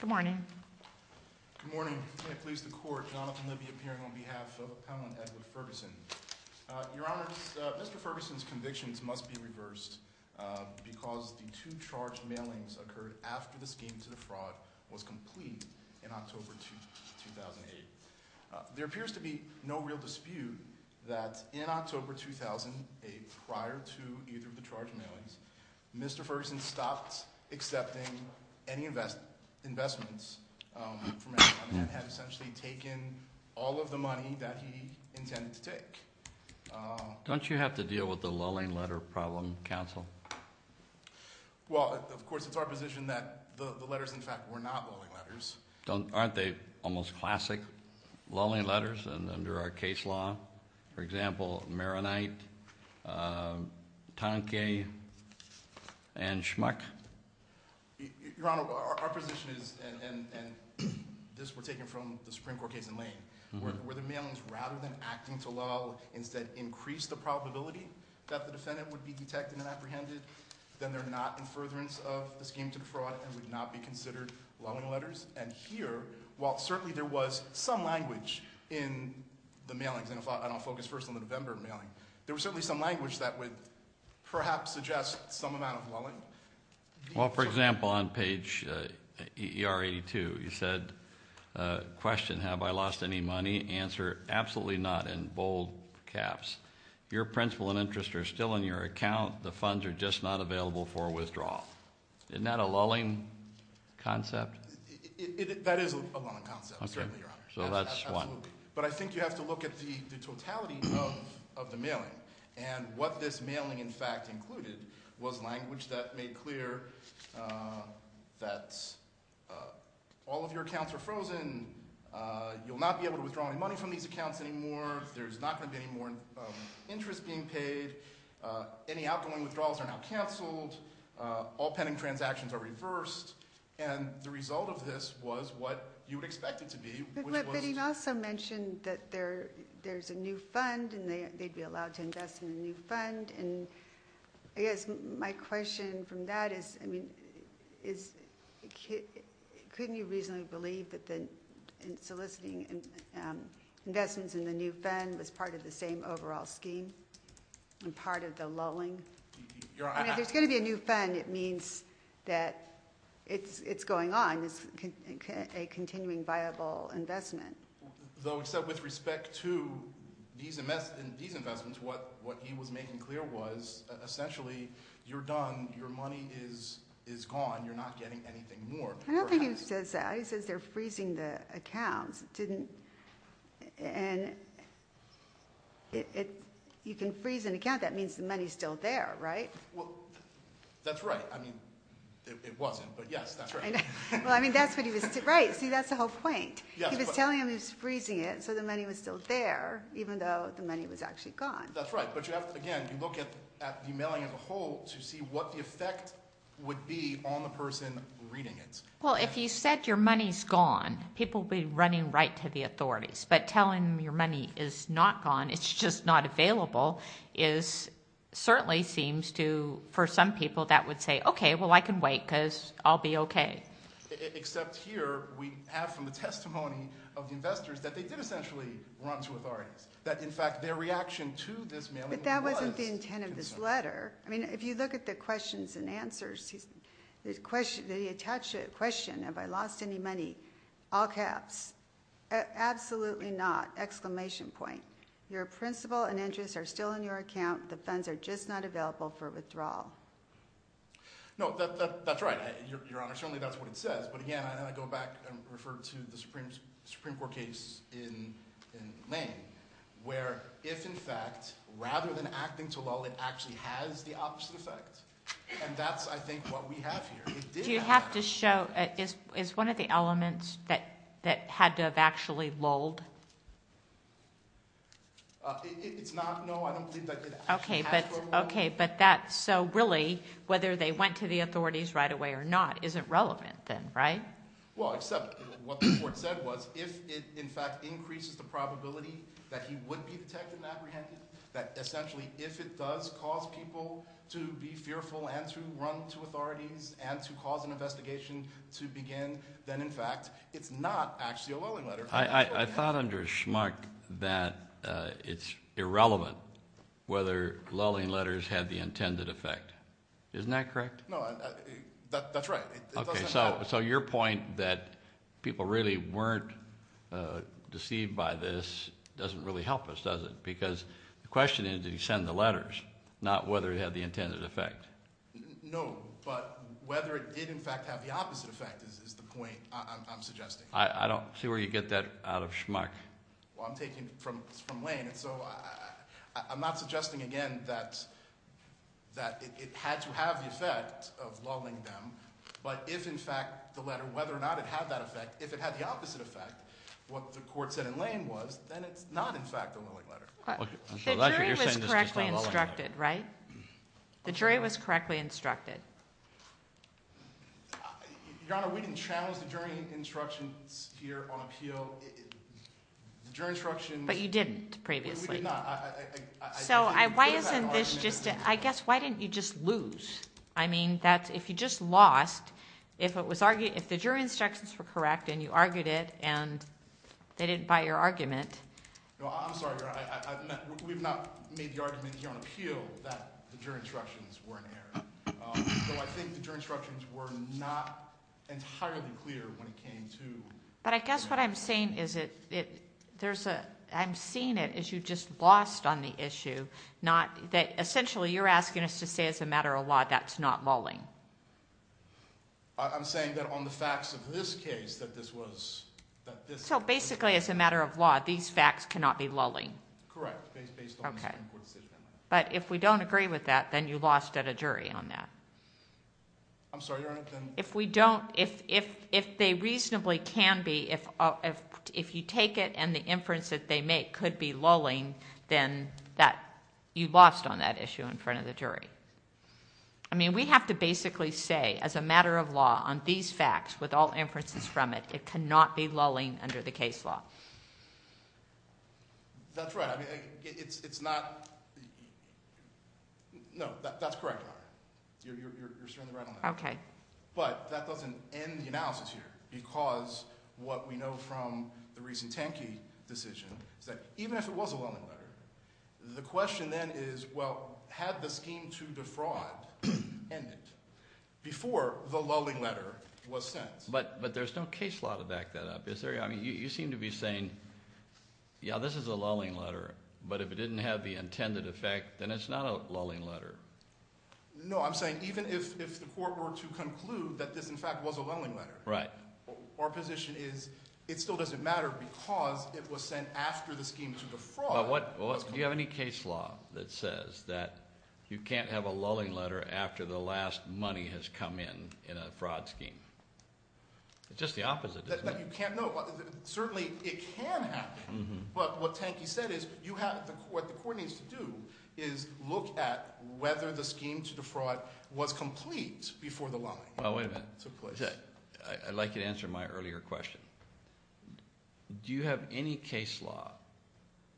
Good morning. Good morning. I please the court Jonathan Libby appearing on behalf of Appellant Edward Ferguson. Your Honor, Mr. Ferguson's convictions must be reversed because the two charged mailings occurred after the scheme to defraud was complete in October 2008. There appears to be no real dispute that in October 2008, prior to either of the charged mailings, Mr. Ferguson stopped accepting any investments from anyone and had essentially taken all of the money that he intended to take. Don't you have to deal with the lulling letter problem, counsel? Well, of course, it's our position that the letters, in fact, were not lulling letters. Aren't they almost classic lulling letters under our case law? For example, Maronite, Tanque, and Schmuck? Your Honor, our position is, and this we're taking from the Supreme Court case in Lane, where the mailings, rather than acting to lull, instead increased the probability that the defendant would be detected and apprehended, then they're not in furtherance of the scheme to defraud and would not be considered lulling letters. And here, while certainly there was some language in the mailings, and I'll focus first on the November mailing, there was certainly some language that would perhaps suggest some amount of lulling. Well, for example, on page EER 82, you said, question, have I lost any money? Answer, absolutely not, in bold caps. Your principal and interest are still in your account. The funds are just not available for withdrawal. Isn't that a lulling concept? That is a lulling concept, certainly, Your Honor. So that's one. But I think you have to look at the totality of the mailing, and what this mailing, in fact, included was language that made clear that all of your accounts are frozen, you'll not be able to withdraw any money from these accounts anymore, there's not going to be any more interest being paid, any outgoing withdrawals are now canceled, all pending transactions are canceled, and the result of this was what you would expect it to be, which was But you also mentioned that there's a new fund, and they'd be allowed to invest in a new fund, and I guess my question from that is, I mean, couldn't you reasonably believe that the soliciting investments in the new fund was part of the same overall scheme, and part of the lulling? Your Honor, I don't think he says that. He says they're freezing the accounts. You can freeze an account, that means the money's still there, right? Well, that's right. I mean, it wasn't, but yes, that's right. Well, I mean, that's what he was, right, see, that's the whole point. He was telling him he was freezing it, so the money was still there, even though the money was actually gone. That's right, but you have to, again, you look at the mailing as a whole to see what the effect would be on the person reading it. Well, if you said your money's gone, people would be running right to the authorities, but telling them your money is not gone, it's just not available, certainly seems to, for some people, that would say, okay, well, I can wait, because I'll be okay. Except here, we have from the testimony of the investors that they did essentially run to authorities, that in fact, their reaction to this mailing was- But that wasn't the intent of this letter. I mean, if you look at the questions and answers, the question, they attach a question, have I lost any money, all caps, absolutely not, exclamation point. Your principal and interest are still in your account, the funds are just not available for withdrawal. No, that's right, Your Honor, certainly that's what it says, but again, I go back and refer to the Supreme Court case in Lane, where if in fact, rather than acting to lull, it actually has the ability to do that. Do you have to show, is one of the elements that had to have actually lulled? It's not, no, I don't believe that it actually has to have lulled. Okay, but that, so really, whether they went to the authorities right away or not, isn't relevant then, right? Well, except what the court said was, if it in fact increases the probability that he would be detected and apprehended, that essentially, if it does cause people to be fearful and to run to authorities and to cause an investigation to begin, then in fact, it's not actually a lulling letter. I thought under Schmuck that it's irrelevant whether lulling letters had the intended effect. Isn't that correct? No, that's right. Okay, so your point that people really weren't deceived by this doesn't really help us, because the question is, did he send the letters, not whether it had the intended effect? No, but whether it did in fact have the opposite effect is the point I'm suggesting. I don't see where you get that out of Schmuck. Well, I'm taking from Lane, and so I'm not suggesting again that it had to have the effect of lulling them, but if in fact the letter, whether or not it had that effect, if it had the opposite effect, what the court said in Lane was, then it's not in fact a lulling letter. The jury was correctly instructed, right? The jury was correctly instructed. Your Honor, we didn't challenge the jury instructions here on appeal. The jury instructions... But you didn't previously. We did not. So why isn't this just... I guess, why didn't you just lose? I mean, if you just lost, if the jury instructions were correct, and you argued it, and they didn't buy your argument... No, I'm sorry, Your Honor. We've not made the argument here on appeal that the jury instructions were in error. So I think the jury instructions were not entirely clear when it came to... But I guess what I'm saying is, I'm seeing it as you just lost on the issue. Essentially, you're asking us to say as a matter of law, that's not lulling. I'm saying that on the facts of this case, that this was... So basically, as a matter of law, these facts cannot be lulling. Correct, based on the Supreme Court decision. But if we don't agree with that, then you lost at a jury on that. I'm sorry, Your Honor, then... If we don't, if they reasonably can be, if you take it and the inference that they make could be lulling, then you lost on that issue in front of the jury. I mean, we have to basically say, as a matter of law, on these facts, with all inferences from it, it cannot be lulling under the case law. That's right. I mean, it's not... No, that's correct, Your Honor. You're certainly right on that. Okay. But that doesn't end the analysis here, because what we know from the recent Tanki decision is that even if it was a lulling letter, the question then is, well, had the scheme to defraud ended before the lulling letter was sent? But there's no case law to back that up, is there? I mean, you seem to be saying, yeah, this is a lulling letter, but if it didn't have the intended effect, then it's not a lulling letter. No, I'm saying even if the court were to conclude that this, in fact, was a lulling letter... Right. Our position is it still doesn't matter because it was sent after the scheme to defraud... Do you have any case law that says that you can't have a lulling letter after the last money has come in in a fraud scheme? It's just the opposite, isn't it? You can't know. Certainly, it can happen, but what Tanki said is what the court needs to do is look at whether the scheme to defraud was complete before the lulling took place. Oh, wait a minute. I'd like you to answer my earlier question. Do you have any case law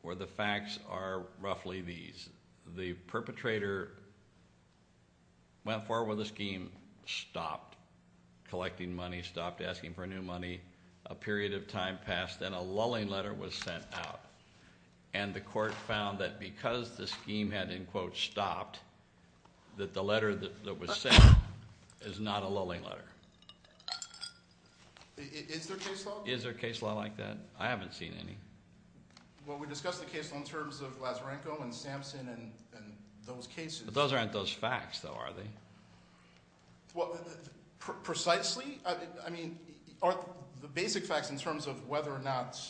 where the facts are roughly these? The perpetrator went forward with the scheme, stopped collecting money, stopped asking for new money, a period of time passed, then a lulling letter was sent out. And the court found that because the scheme had, in quote, stopped, that the letter that was sent is not a lulling letter. Is there case law? Is there a case law like that? I haven't seen any. Well, we discussed the case law in terms of Lazarenko and Sampson and those cases. But those aren't those facts, though, are they? Well, precisely, I mean, are the basic facts in terms of whether or not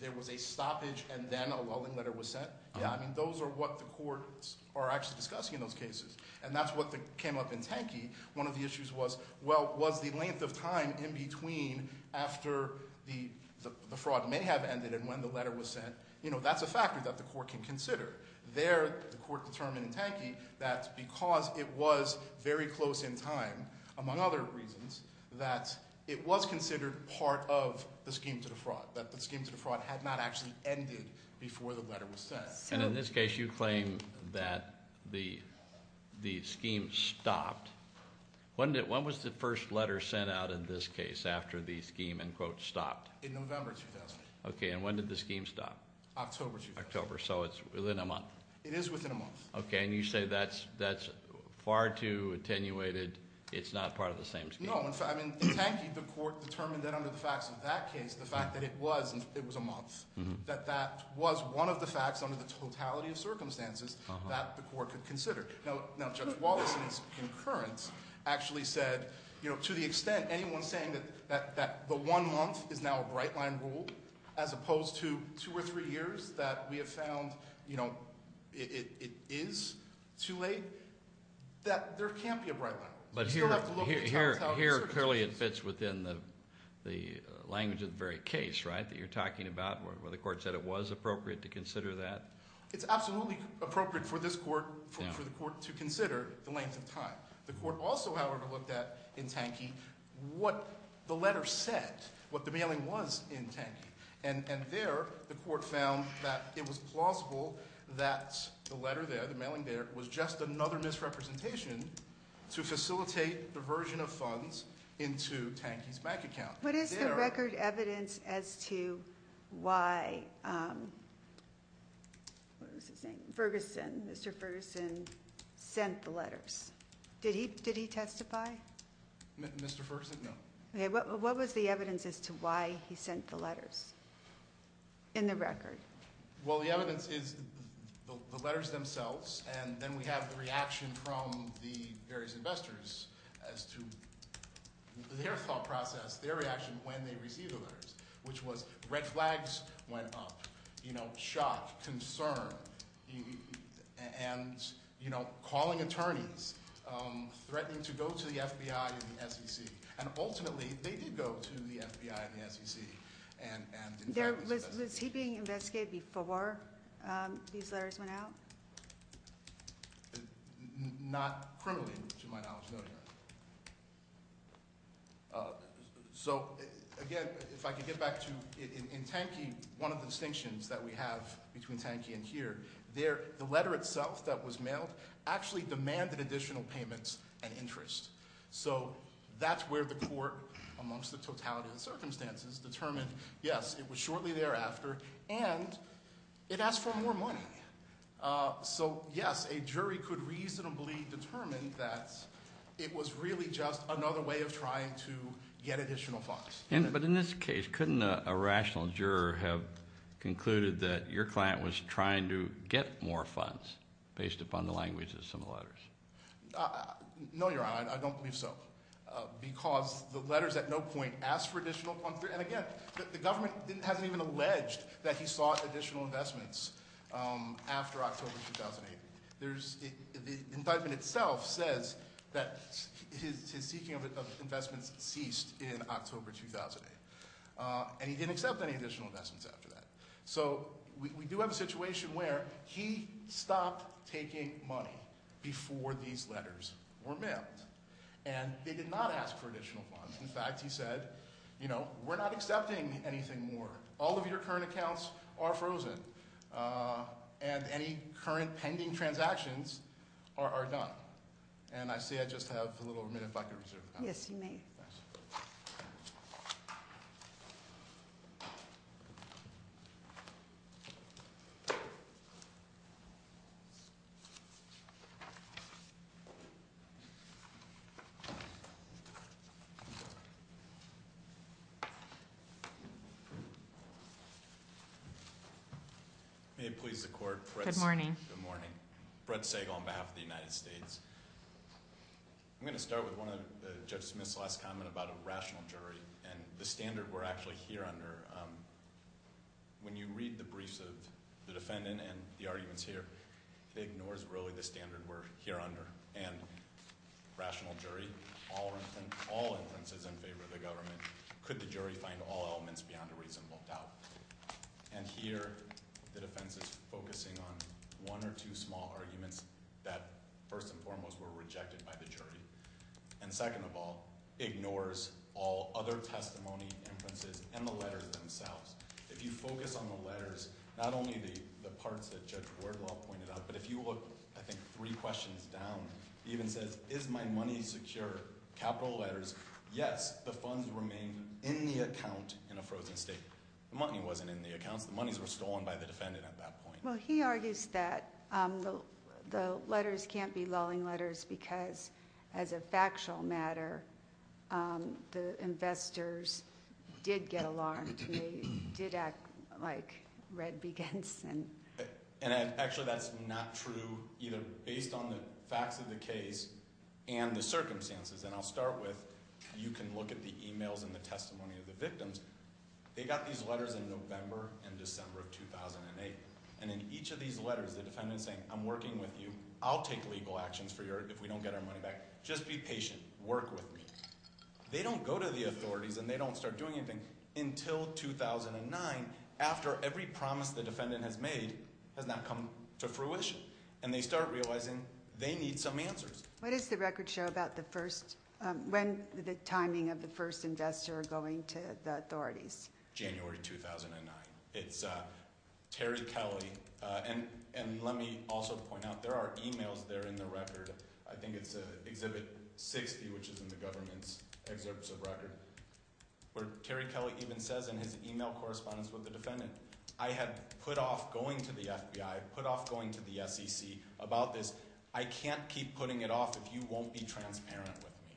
there was a stoppage and then a lulling letter was sent? Yeah, I mean, those are what the courts are actually discussing in those cases. And that's what came up in Tankey. One of the issues was, well, was the length of time in between after the fraud may have ended and when the letter was sent, you know, that's a factor that the court can consider. There, the court determined in Tankey, that because it was very close in time, among other reasons, that it was considered part of the scheme to defraud, that the scheme to defraud had not actually ended before the letter was sent. And in this case, you claim that the scheme stopped. When was the first letter sent out in this case after the scheme, end quote, stopped? In November 2000. Okay, and when did the scheme stop? October 2000. October, so it's within a month. It is within a month. Okay, and you say that's far too attenuated, it's not part of the same scheme. No, in fact, I mean, in Tankey, the court determined that under the facts of that case, the fact that it was, it was a month, that that was one of the facts under the totality of circumstances that the court could consider. Now, Judge Wallace in his concurrence actually said, you know, to the extent anyone's saying that the one month is now a bright line rule, as opposed to two or three years that we have found, you know, it is too late, that there can't be a bright line rule. But here clearly it fits within the language of the very case, right, that you're talking about, where the court said it was appropriate to consider that? It's absolutely appropriate for this court, for the court to consider the length of time. The court also, however, looked at, in Tankey, what the letter said, what the mailing was in Tankey, and there the court found that it was plausible that the letter there, the letter did facilitate the version of funds into Tankey's bank account. What is the record evidence as to why, what was his name, Ferguson, Mr. Ferguson sent the letters? Did he testify? Mr. Ferguson? No. Okay, what was the evidence as to why he sent the letters in the record? Well, the evidence is the letters themselves, and then we have the reaction from the various investors as to their thought process, their reaction when they received the letters, which was red flags went up, you know, shock, concern, and, you know, calling attorneys, threatening to go to the FBI and the SEC, and ultimately they did go to the FBI and the SEC, and in fact... Was he being investigated before these letters went out? Not criminally, to my knowledge, no, Your Honor. So again, if I could get back to, in Tankey, one of the distinctions that we have between Tankey and here, there, the letter itself that was mailed actually demanded additional payments and interest. So that's where the court, amongst the totality of the circumstances, determined, yes, it was shortly thereafter, and it asked for more money. So yes, a jury could reasonably determine that it was really just another way of trying to get additional funds. But in this case, couldn't a rational juror have concluded that your client was trying to get more funds based upon the language of some of the letters? No, Your Honor, I don't believe so, because the letters at no point asked for additional funds. And again, the government hasn't even alleged that he sought additional investments after October 2008. There's... The indictment itself says that his seeking of investments ceased in October 2008, and he didn't accept any additional investments after that. So we do have a situation where he stopped taking money before these letters were mailed, and they did not ask for additional funds. In fact, he said, you know, we're not accepting anything more. All of your current accounts are frozen, and any current pending transactions are done. And I see I just have a little minute if I could reserve the time. Yes, you may. May it please the Court, Brett Segal, on behalf of the United States. I'm going to start with Judge Smith's last comment about a rational jury, and the standard we're actually here under. When you read the briefs of the defendant and the arguments here, it ignores, really, the standard we're here under. And rational jury, all inferences in favor of the government. Could the jury find all elements beyond a reasonable doubt? And here, the defense is focusing on one or two small arguments that, first and foremost, were rejected by the jury. And second of all, ignores all other testimony, inferences, and the letters themselves. If you focus on the letters, not only the parts that Judge Wardlaw pointed out, but if you look, I think, three questions down, he even says, is my money secure? Capital letters. Yes, the funds remain in the account in a frozen state. The money wasn't in the accounts. The monies were stolen by the defendant at that point. Well, he argues that the letters can't be lulling letters because, as a factual matter, the investors did get alarmed. They did act like Red B. Ginson. And actually, that's not true, either based on the facts of the case and the circumstances. And I'll start with, you can look at the emails and the testimony of the victims. They got these letters in November and December of 2008. And in each of these letters, the defendant's saying, I'm working with you. I'll take legal actions for you if we don't get our money back. Just be patient. Work with me. They don't go to the authorities and they don't start doing anything until 2009, after every promise the defendant has made has now come to fruition. And they start realizing they need some answers. What does the record show about the first, when the timing of the first investor going to the authorities? January 2009. It's Terry Kelly. And let me also point out, there are emails there in the record. I think it's Exhibit 60, which is in the government's excerpts of record, where Terry Kelly even to the authorities? January 2009. It's Terry Kelly. And let me also point out, there are emails there in the record. I had put off going to the FBI, put off going to the SEC about this. I can't keep putting it off if you won't be transparent with me.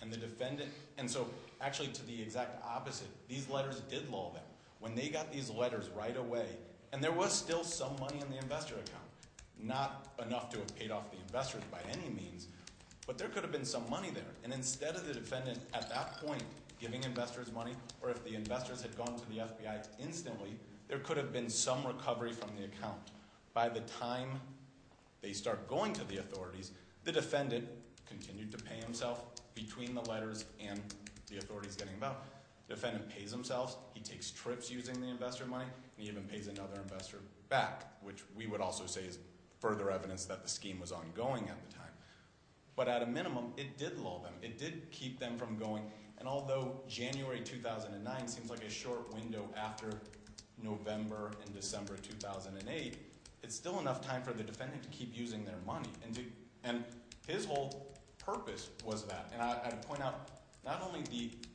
And the defendant, and so actually to the exact opposite, these letters did lull them. When they got these letters right away, and there was still some money in the investor account, not enough to have paid off the investors by any means, but there could have been some money there. And instead of the defendant at that point giving investors money, or if the investors had gone to the FBI instantly, there could have been some recovery from the account. By the time they start going to the authorities, the defendant continued to pay himself between the letters and the authorities getting about. The defendant pays himself. He takes trips using the investor money, and he even pays another investor back, which we would also say is further evidence that the scheme was ongoing at the time. But at a minimum, it did lull them. It did keep them from going. And although January 2009 seems like a short window after November and December 2008, it's still enough time for the defendant to keep using their money. And his whole purpose was that. And I'd point out, not only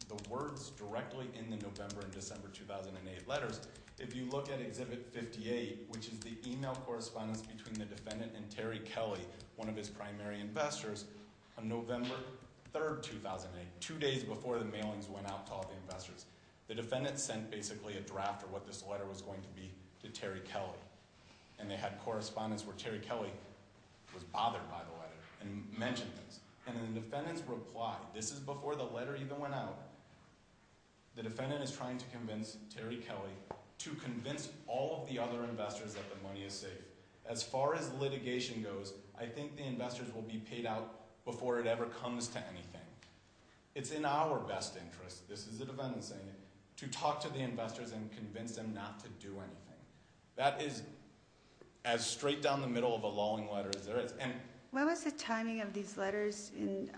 the words directly in the November and December 2008 letters, if you look at Exhibit 58, which is the email correspondence between the defendant and Terry before the mailings went out to all the investors, the defendant sent basically a draft of what this letter was going to be to Terry Kelly. And they had correspondence where Terry Kelly was bothered by the letter and mentioned this. And the defendants replied, this is before the letter even went out. The defendant is trying to convince Terry Kelly to convince all of the other investors that the money is safe. As far as litigation goes, I think the investors will be paid out before it ever comes to anything. It's in our best interest, this is the defendant saying it, to talk to the investors and convince them not to do anything. That is as straight down the middle of a lulling letter as there is. And- What was the timing of these letters in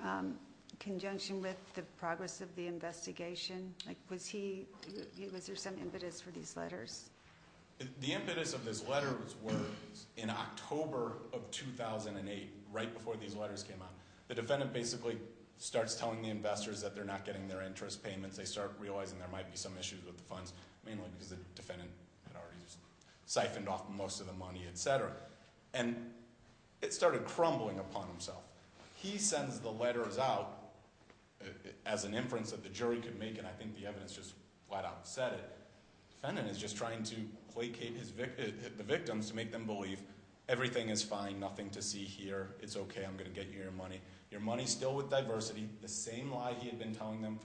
conjunction with the progress of the investigation? Was there some impetus for these letters? The impetus of this letter was in October of 2008, right before these letters came out. The defendant basically starts telling the investors that they're not getting their interest payments. They start realizing there might be some issues with the funds, mainly because the defendant had already siphoned off most of the money, etc. And it started crumbling upon himself. He sends the letters out as an inference that the jury could make, and I think the evidence just flat out said it. The defendant is just trying to placate the victims to make them believe everything is fine, nothing to see here. It's okay, I'm going to get you your money. Your money's still with diversity, the same lie he had been telling them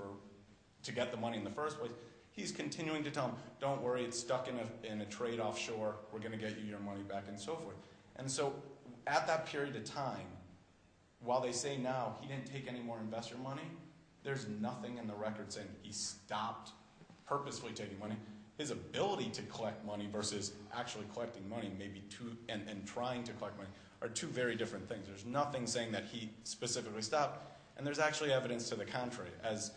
to get the money in the first place. He's continuing to tell them, don't worry, it's stuck in a trade offshore, we're going to get you your money back, and so forth. And so at that period of time, while they say now he didn't take any more investor money, there's nothing in the record saying he stopped purposefully taking money. His ability to collect money versus actually collecting money and trying to collect money are two very different things. There's nothing saying that he specifically stopped, and there's actually evidence to the contrary. As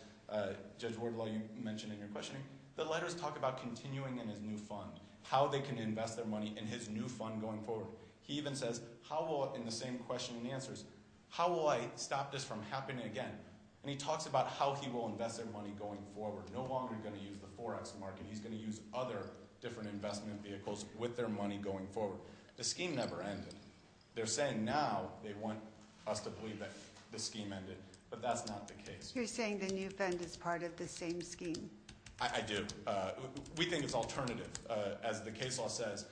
Judge Wardlow, you mentioned in your questioning, the letters talk about continuing in his new fund, how they can invest their money in his new fund going forward. He even says, in the same question and answers, how will I stop this from happening again? And he talks about how he will invest their money going forward, no longer going to use the Forex market. He's going to use other different investment vehicles with their money going forward. The scheme never ended. They're saying now, they want us to believe that the scheme ended, but that's not the case. You're saying the new fund is part of the same scheme? I do. We think it's alternative. As the case law says,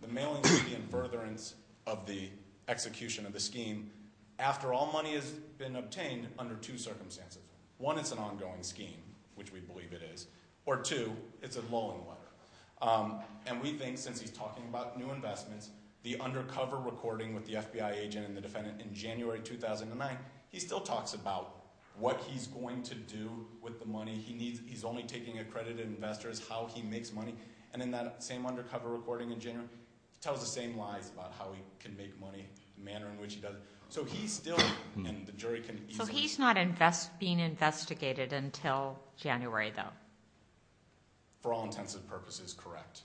the mailing will be in furtherance of the execution of the scheme. After all money has been obtained under two circumstances. One, it's an ongoing scheme, which we believe it is. Or two, it's a lull in the water, and we think since he's talking about new investments, the undercover recording with the FBI agent and the defendant in January 2009, he still talks about what he's going to do with the money he needs. He's only taking accredited investors, how he makes money. And in that same undercover recording in January, tells the same lies about how he can make money, the manner in which he does it. So he's still, and the jury can easily- Until January, though. For all intents and purposes, correct.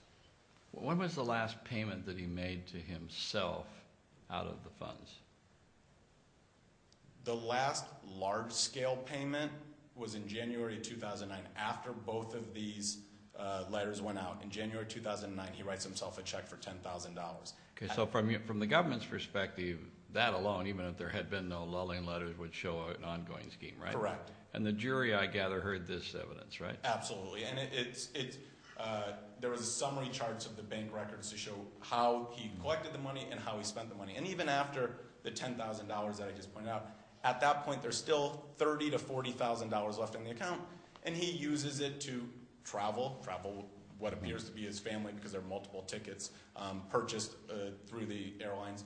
When was the last payment that he made to himself out of the funds? The last large-scale payment was in January 2009, after both of these letters went out. In January 2009, he writes himself a check for $10,000. Okay, so from the government's perspective, that alone, even if there had been no lulling letters, would show an ongoing scheme, right? Correct. And the jury, I gather, heard this evidence, right? Absolutely, and there was a summary charts of the bank records to show how he collected the money and how he spent the money. And even after the $10,000 that I just pointed out, at that point, there's still $30,000 to $40,000 left in the account. And he uses it to travel, travel what appears to be his family, because there are multiple tickets purchased through the airlines.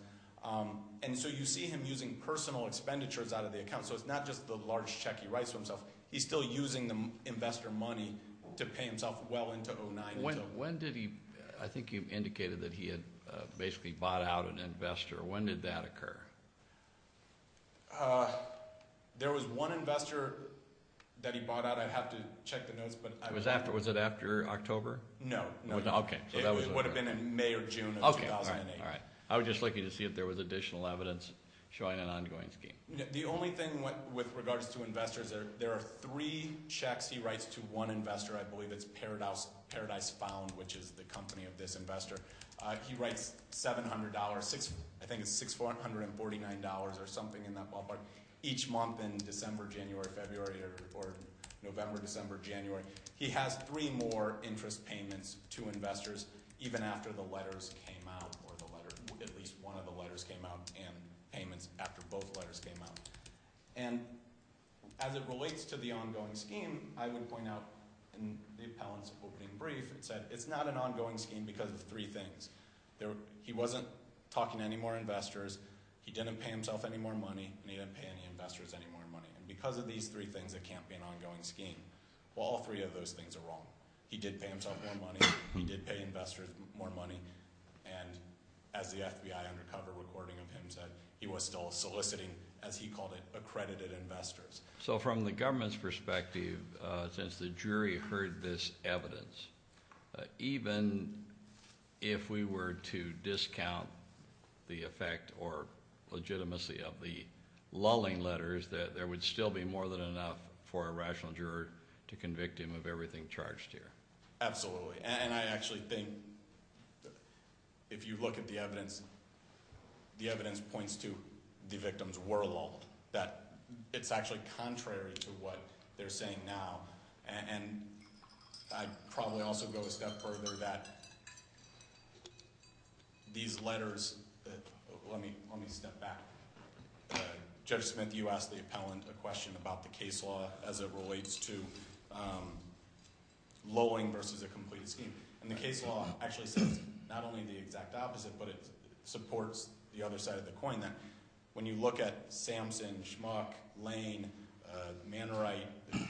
And so you see him using personal expenditures out of the account, so it's not just the large check he writes for himself. He's still using the investor money to pay himself well into 2009. When did he, I think you indicated that he had basically bought out an investor. When did that occur? There was one investor that he bought out. I'd have to check the notes, but- Was it after October? No. Okay. It would have been in May or June of 2008. All right. I would just like you to see if there was additional evidence showing an ongoing scheme. The only thing with regards to investors, there are three checks he writes to one investor. I believe it's Paradise Found, which is the company of this investor. He writes $700, I think it's $649 or something in that ballpark, each month in December, January, February, or November, December, January. He has three more interest payments to investors, even after the letters came out, or at least one of the letters came out and payments after both letters came out. And as it relates to the ongoing scheme, I would point out in the appellant's opening brief, it said it's not an ongoing scheme because of three things. He wasn't talking to any more investors, he didn't pay himself any more money, and he didn't pay any investors any more money. And because of these three things, it can't be an ongoing scheme. Well, all three of those things are wrong. He did pay himself more money, he did pay investors more money. And as the FBI undercover recording of him said, he was still soliciting, as he called it, accredited investors. So from the government's perspective, since the jury heard this evidence, even if we were to discount the effect or the legitimacy of the lulling letters, that there would still be more than enough for a rational juror to convict him of everything charged here. Absolutely, and I actually think that if you look at the evidence, the evidence points to the victims were lulled, that it's actually contrary to what they're saying now. And I'd probably also go a step further that these letters, let me step back, Judge Smith, you asked the appellant a question about the case law as it relates to lulling versus a completed scheme. And the case law actually says not only the exact opposite, but it supports the other side of the coin. That when you look at Samson, Schmuck, Lane, Manwright,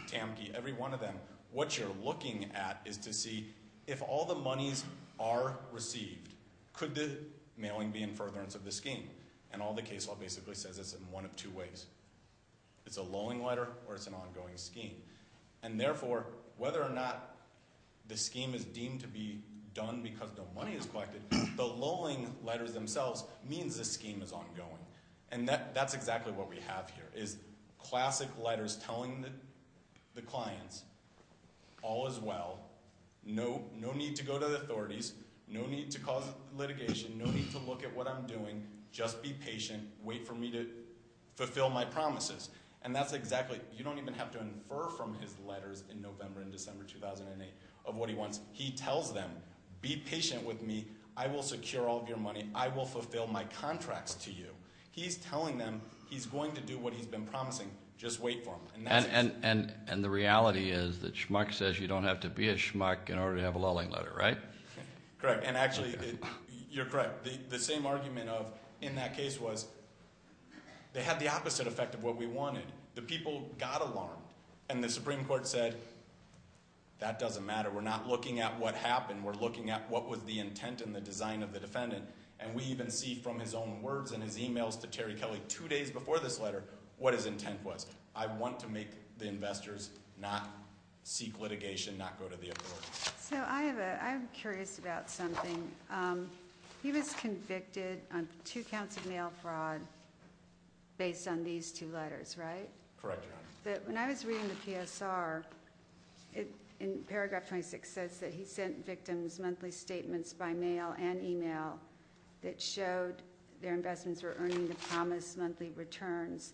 Tamki, every one of them, what you're looking at is to see if all the monies are received, could the mailing be in furtherance of the scheme? And all the case law basically says is in one of two ways. It's a lulling letter or it's an ongoing scheme. And therefore, whether or not the scheme is deemed to be done because no money is collected, the lulling letters themselves means the scheme is ongoing. And that's exactly what we have here, is classic letters telling the clients, all is well, no need to go to the authorities, no need to cause litigation, no need to look at what I'm doing, just be patient, wait for me to fulfill my promises. And that's exactly, you don't even have to infer from his letters in November and December 2008 of what he wants. He tells them, be patient with me, I will secure all of your money, I will fulfill my contracts to you. He's telling them, he's going to do what he's been promising, just wait for him. And the reality is that schmuck says you don't have to be a schmuck in order to have a lulling letter, right? Correct. And actually, you're correct. The same argument of in that case was they had the opposite effect of what we wanted. The people got alarmed. And the Supreme Court said, that doesn't matter. We're not looking at what happened. We're looking at what was the intent and the design of the defendant. And we even see from his own words and his emails to Terry Kelly two days before this letter what his intent was. I want to make the investors not seek litigation, not go to the authorities. So I have a, I'm curious about something. He was convicted on two counts of mail fraud. Based on these two letters, right? Correct. That when I was reading the PSR in paragraph 26 says that he sent victims monthly statements by mail and email that showed their investments were earning the promised monthly returns.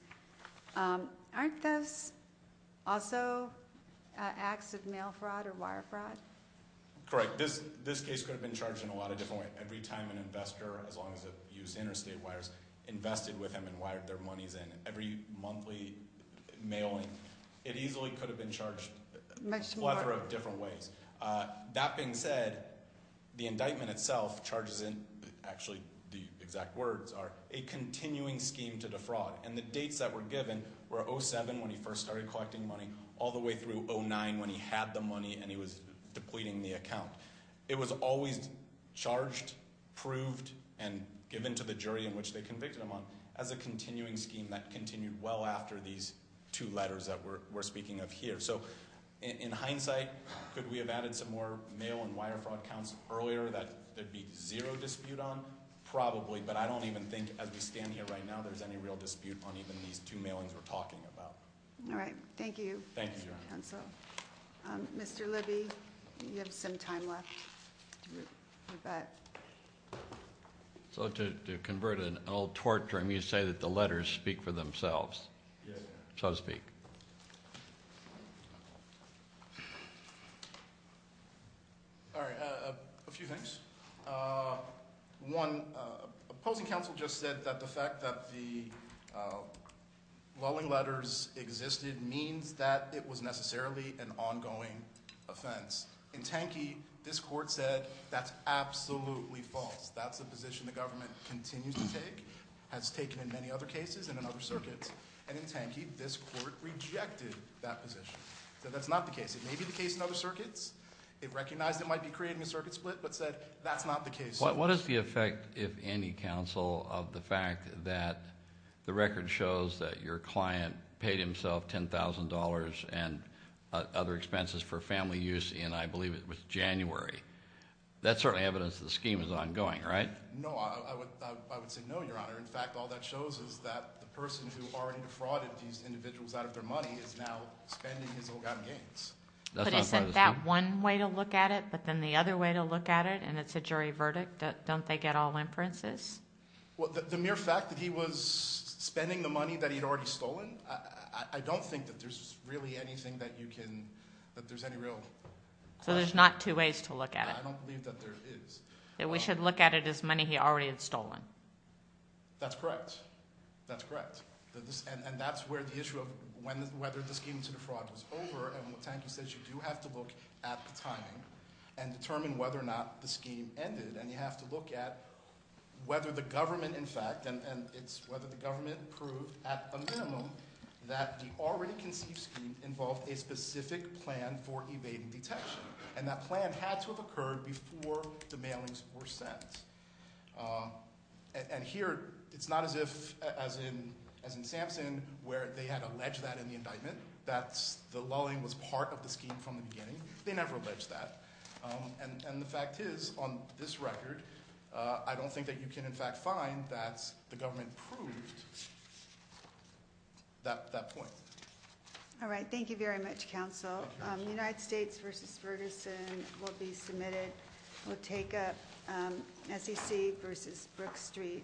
Aren't those also acts of mail fraud or wire fraud? Correct. This case could have been charged in a lot of different ways. Every time an investor, as long as it used interstate wires, invested with him and wired their monies in. Every monthly mailing, it easily could have been charged a plethora of different ways. That being said, the indictment itself charges in, actually the exact words are, a continuing scheme to defraud. And the dates that were given were 07 when he first started collecting money all the way through 09 when he had the money and he was depleting the account. It was always charged, proved, and given to the jury in which they convicted him on as a continuing scheme that continued well after these two letters that we're speaking of here. So in hindsight, could we have added some more mail and wire fraud counts earlier that there'd be zero dispute on? Probably, but I don't even think as we stand here right now, there's any real dispute on even these two mailings we're talking about. All right. Thank you. Thank you. Mr. Libby, you have some time left. So to convert an old tort term, you say that the letters speak for themselves. So to speak. A few things. One, opposing counsel just said that the fact that the lulling letters existed means that it was necessarily an ongoing offense. In Tanki, this court said that's absolutely false. That's a position the government continues to take, has taken in many other cases and in other circuits. And in Tanki, this court rejected that position. So that's not the case. It may be the case in other circuits. It recognized it might be creating a circuit split, but said that's not the case. What is the effect, if any counsel, of the fact that the record shows that your client paid himself $10,000 and other expenses for family use in, I believe it was January. That's certainly evidence the scheme is ongoing, right? No, I would say no, your honor. In fact, all that shows is that the person who already defrauded these individuals out of their money is now spending his own gains. But is it that one way to look at it, but then the other way to look at it, and it's a jury verdict, don't they get all inferences? Well, the mere fact that he was spending the money that he'd already stolen, I don't think that there's really anything that you can, that there's any real. So there's not two ways to look at it. I don't believe that there is. That we should look at it as money he already had stolen. That's correct. That's correct. And that's where the issue of whether the scheme to defraud was over, and what Tanki says, you do have to look at the timing and determine whether or not the scheme ended, and you have to look at whether the government in fact, and it's whether the government proved at a minimum that the already conceived scheme involved a specific plan for evading detection. And that plan had to have occurred before the mailings were sent. And here, it's not as if, as in Samson, where they had alleged that in the indictment, that the lulling was part of the scheme from the beginning. They never alleged that. And the fact is, on this record, I don't think that you can in fact find that the government proved that point. All right. Thank you very much, counsel. United States versus Ferguson will be submitted. We'll take up SEC versus Brook Street Securities.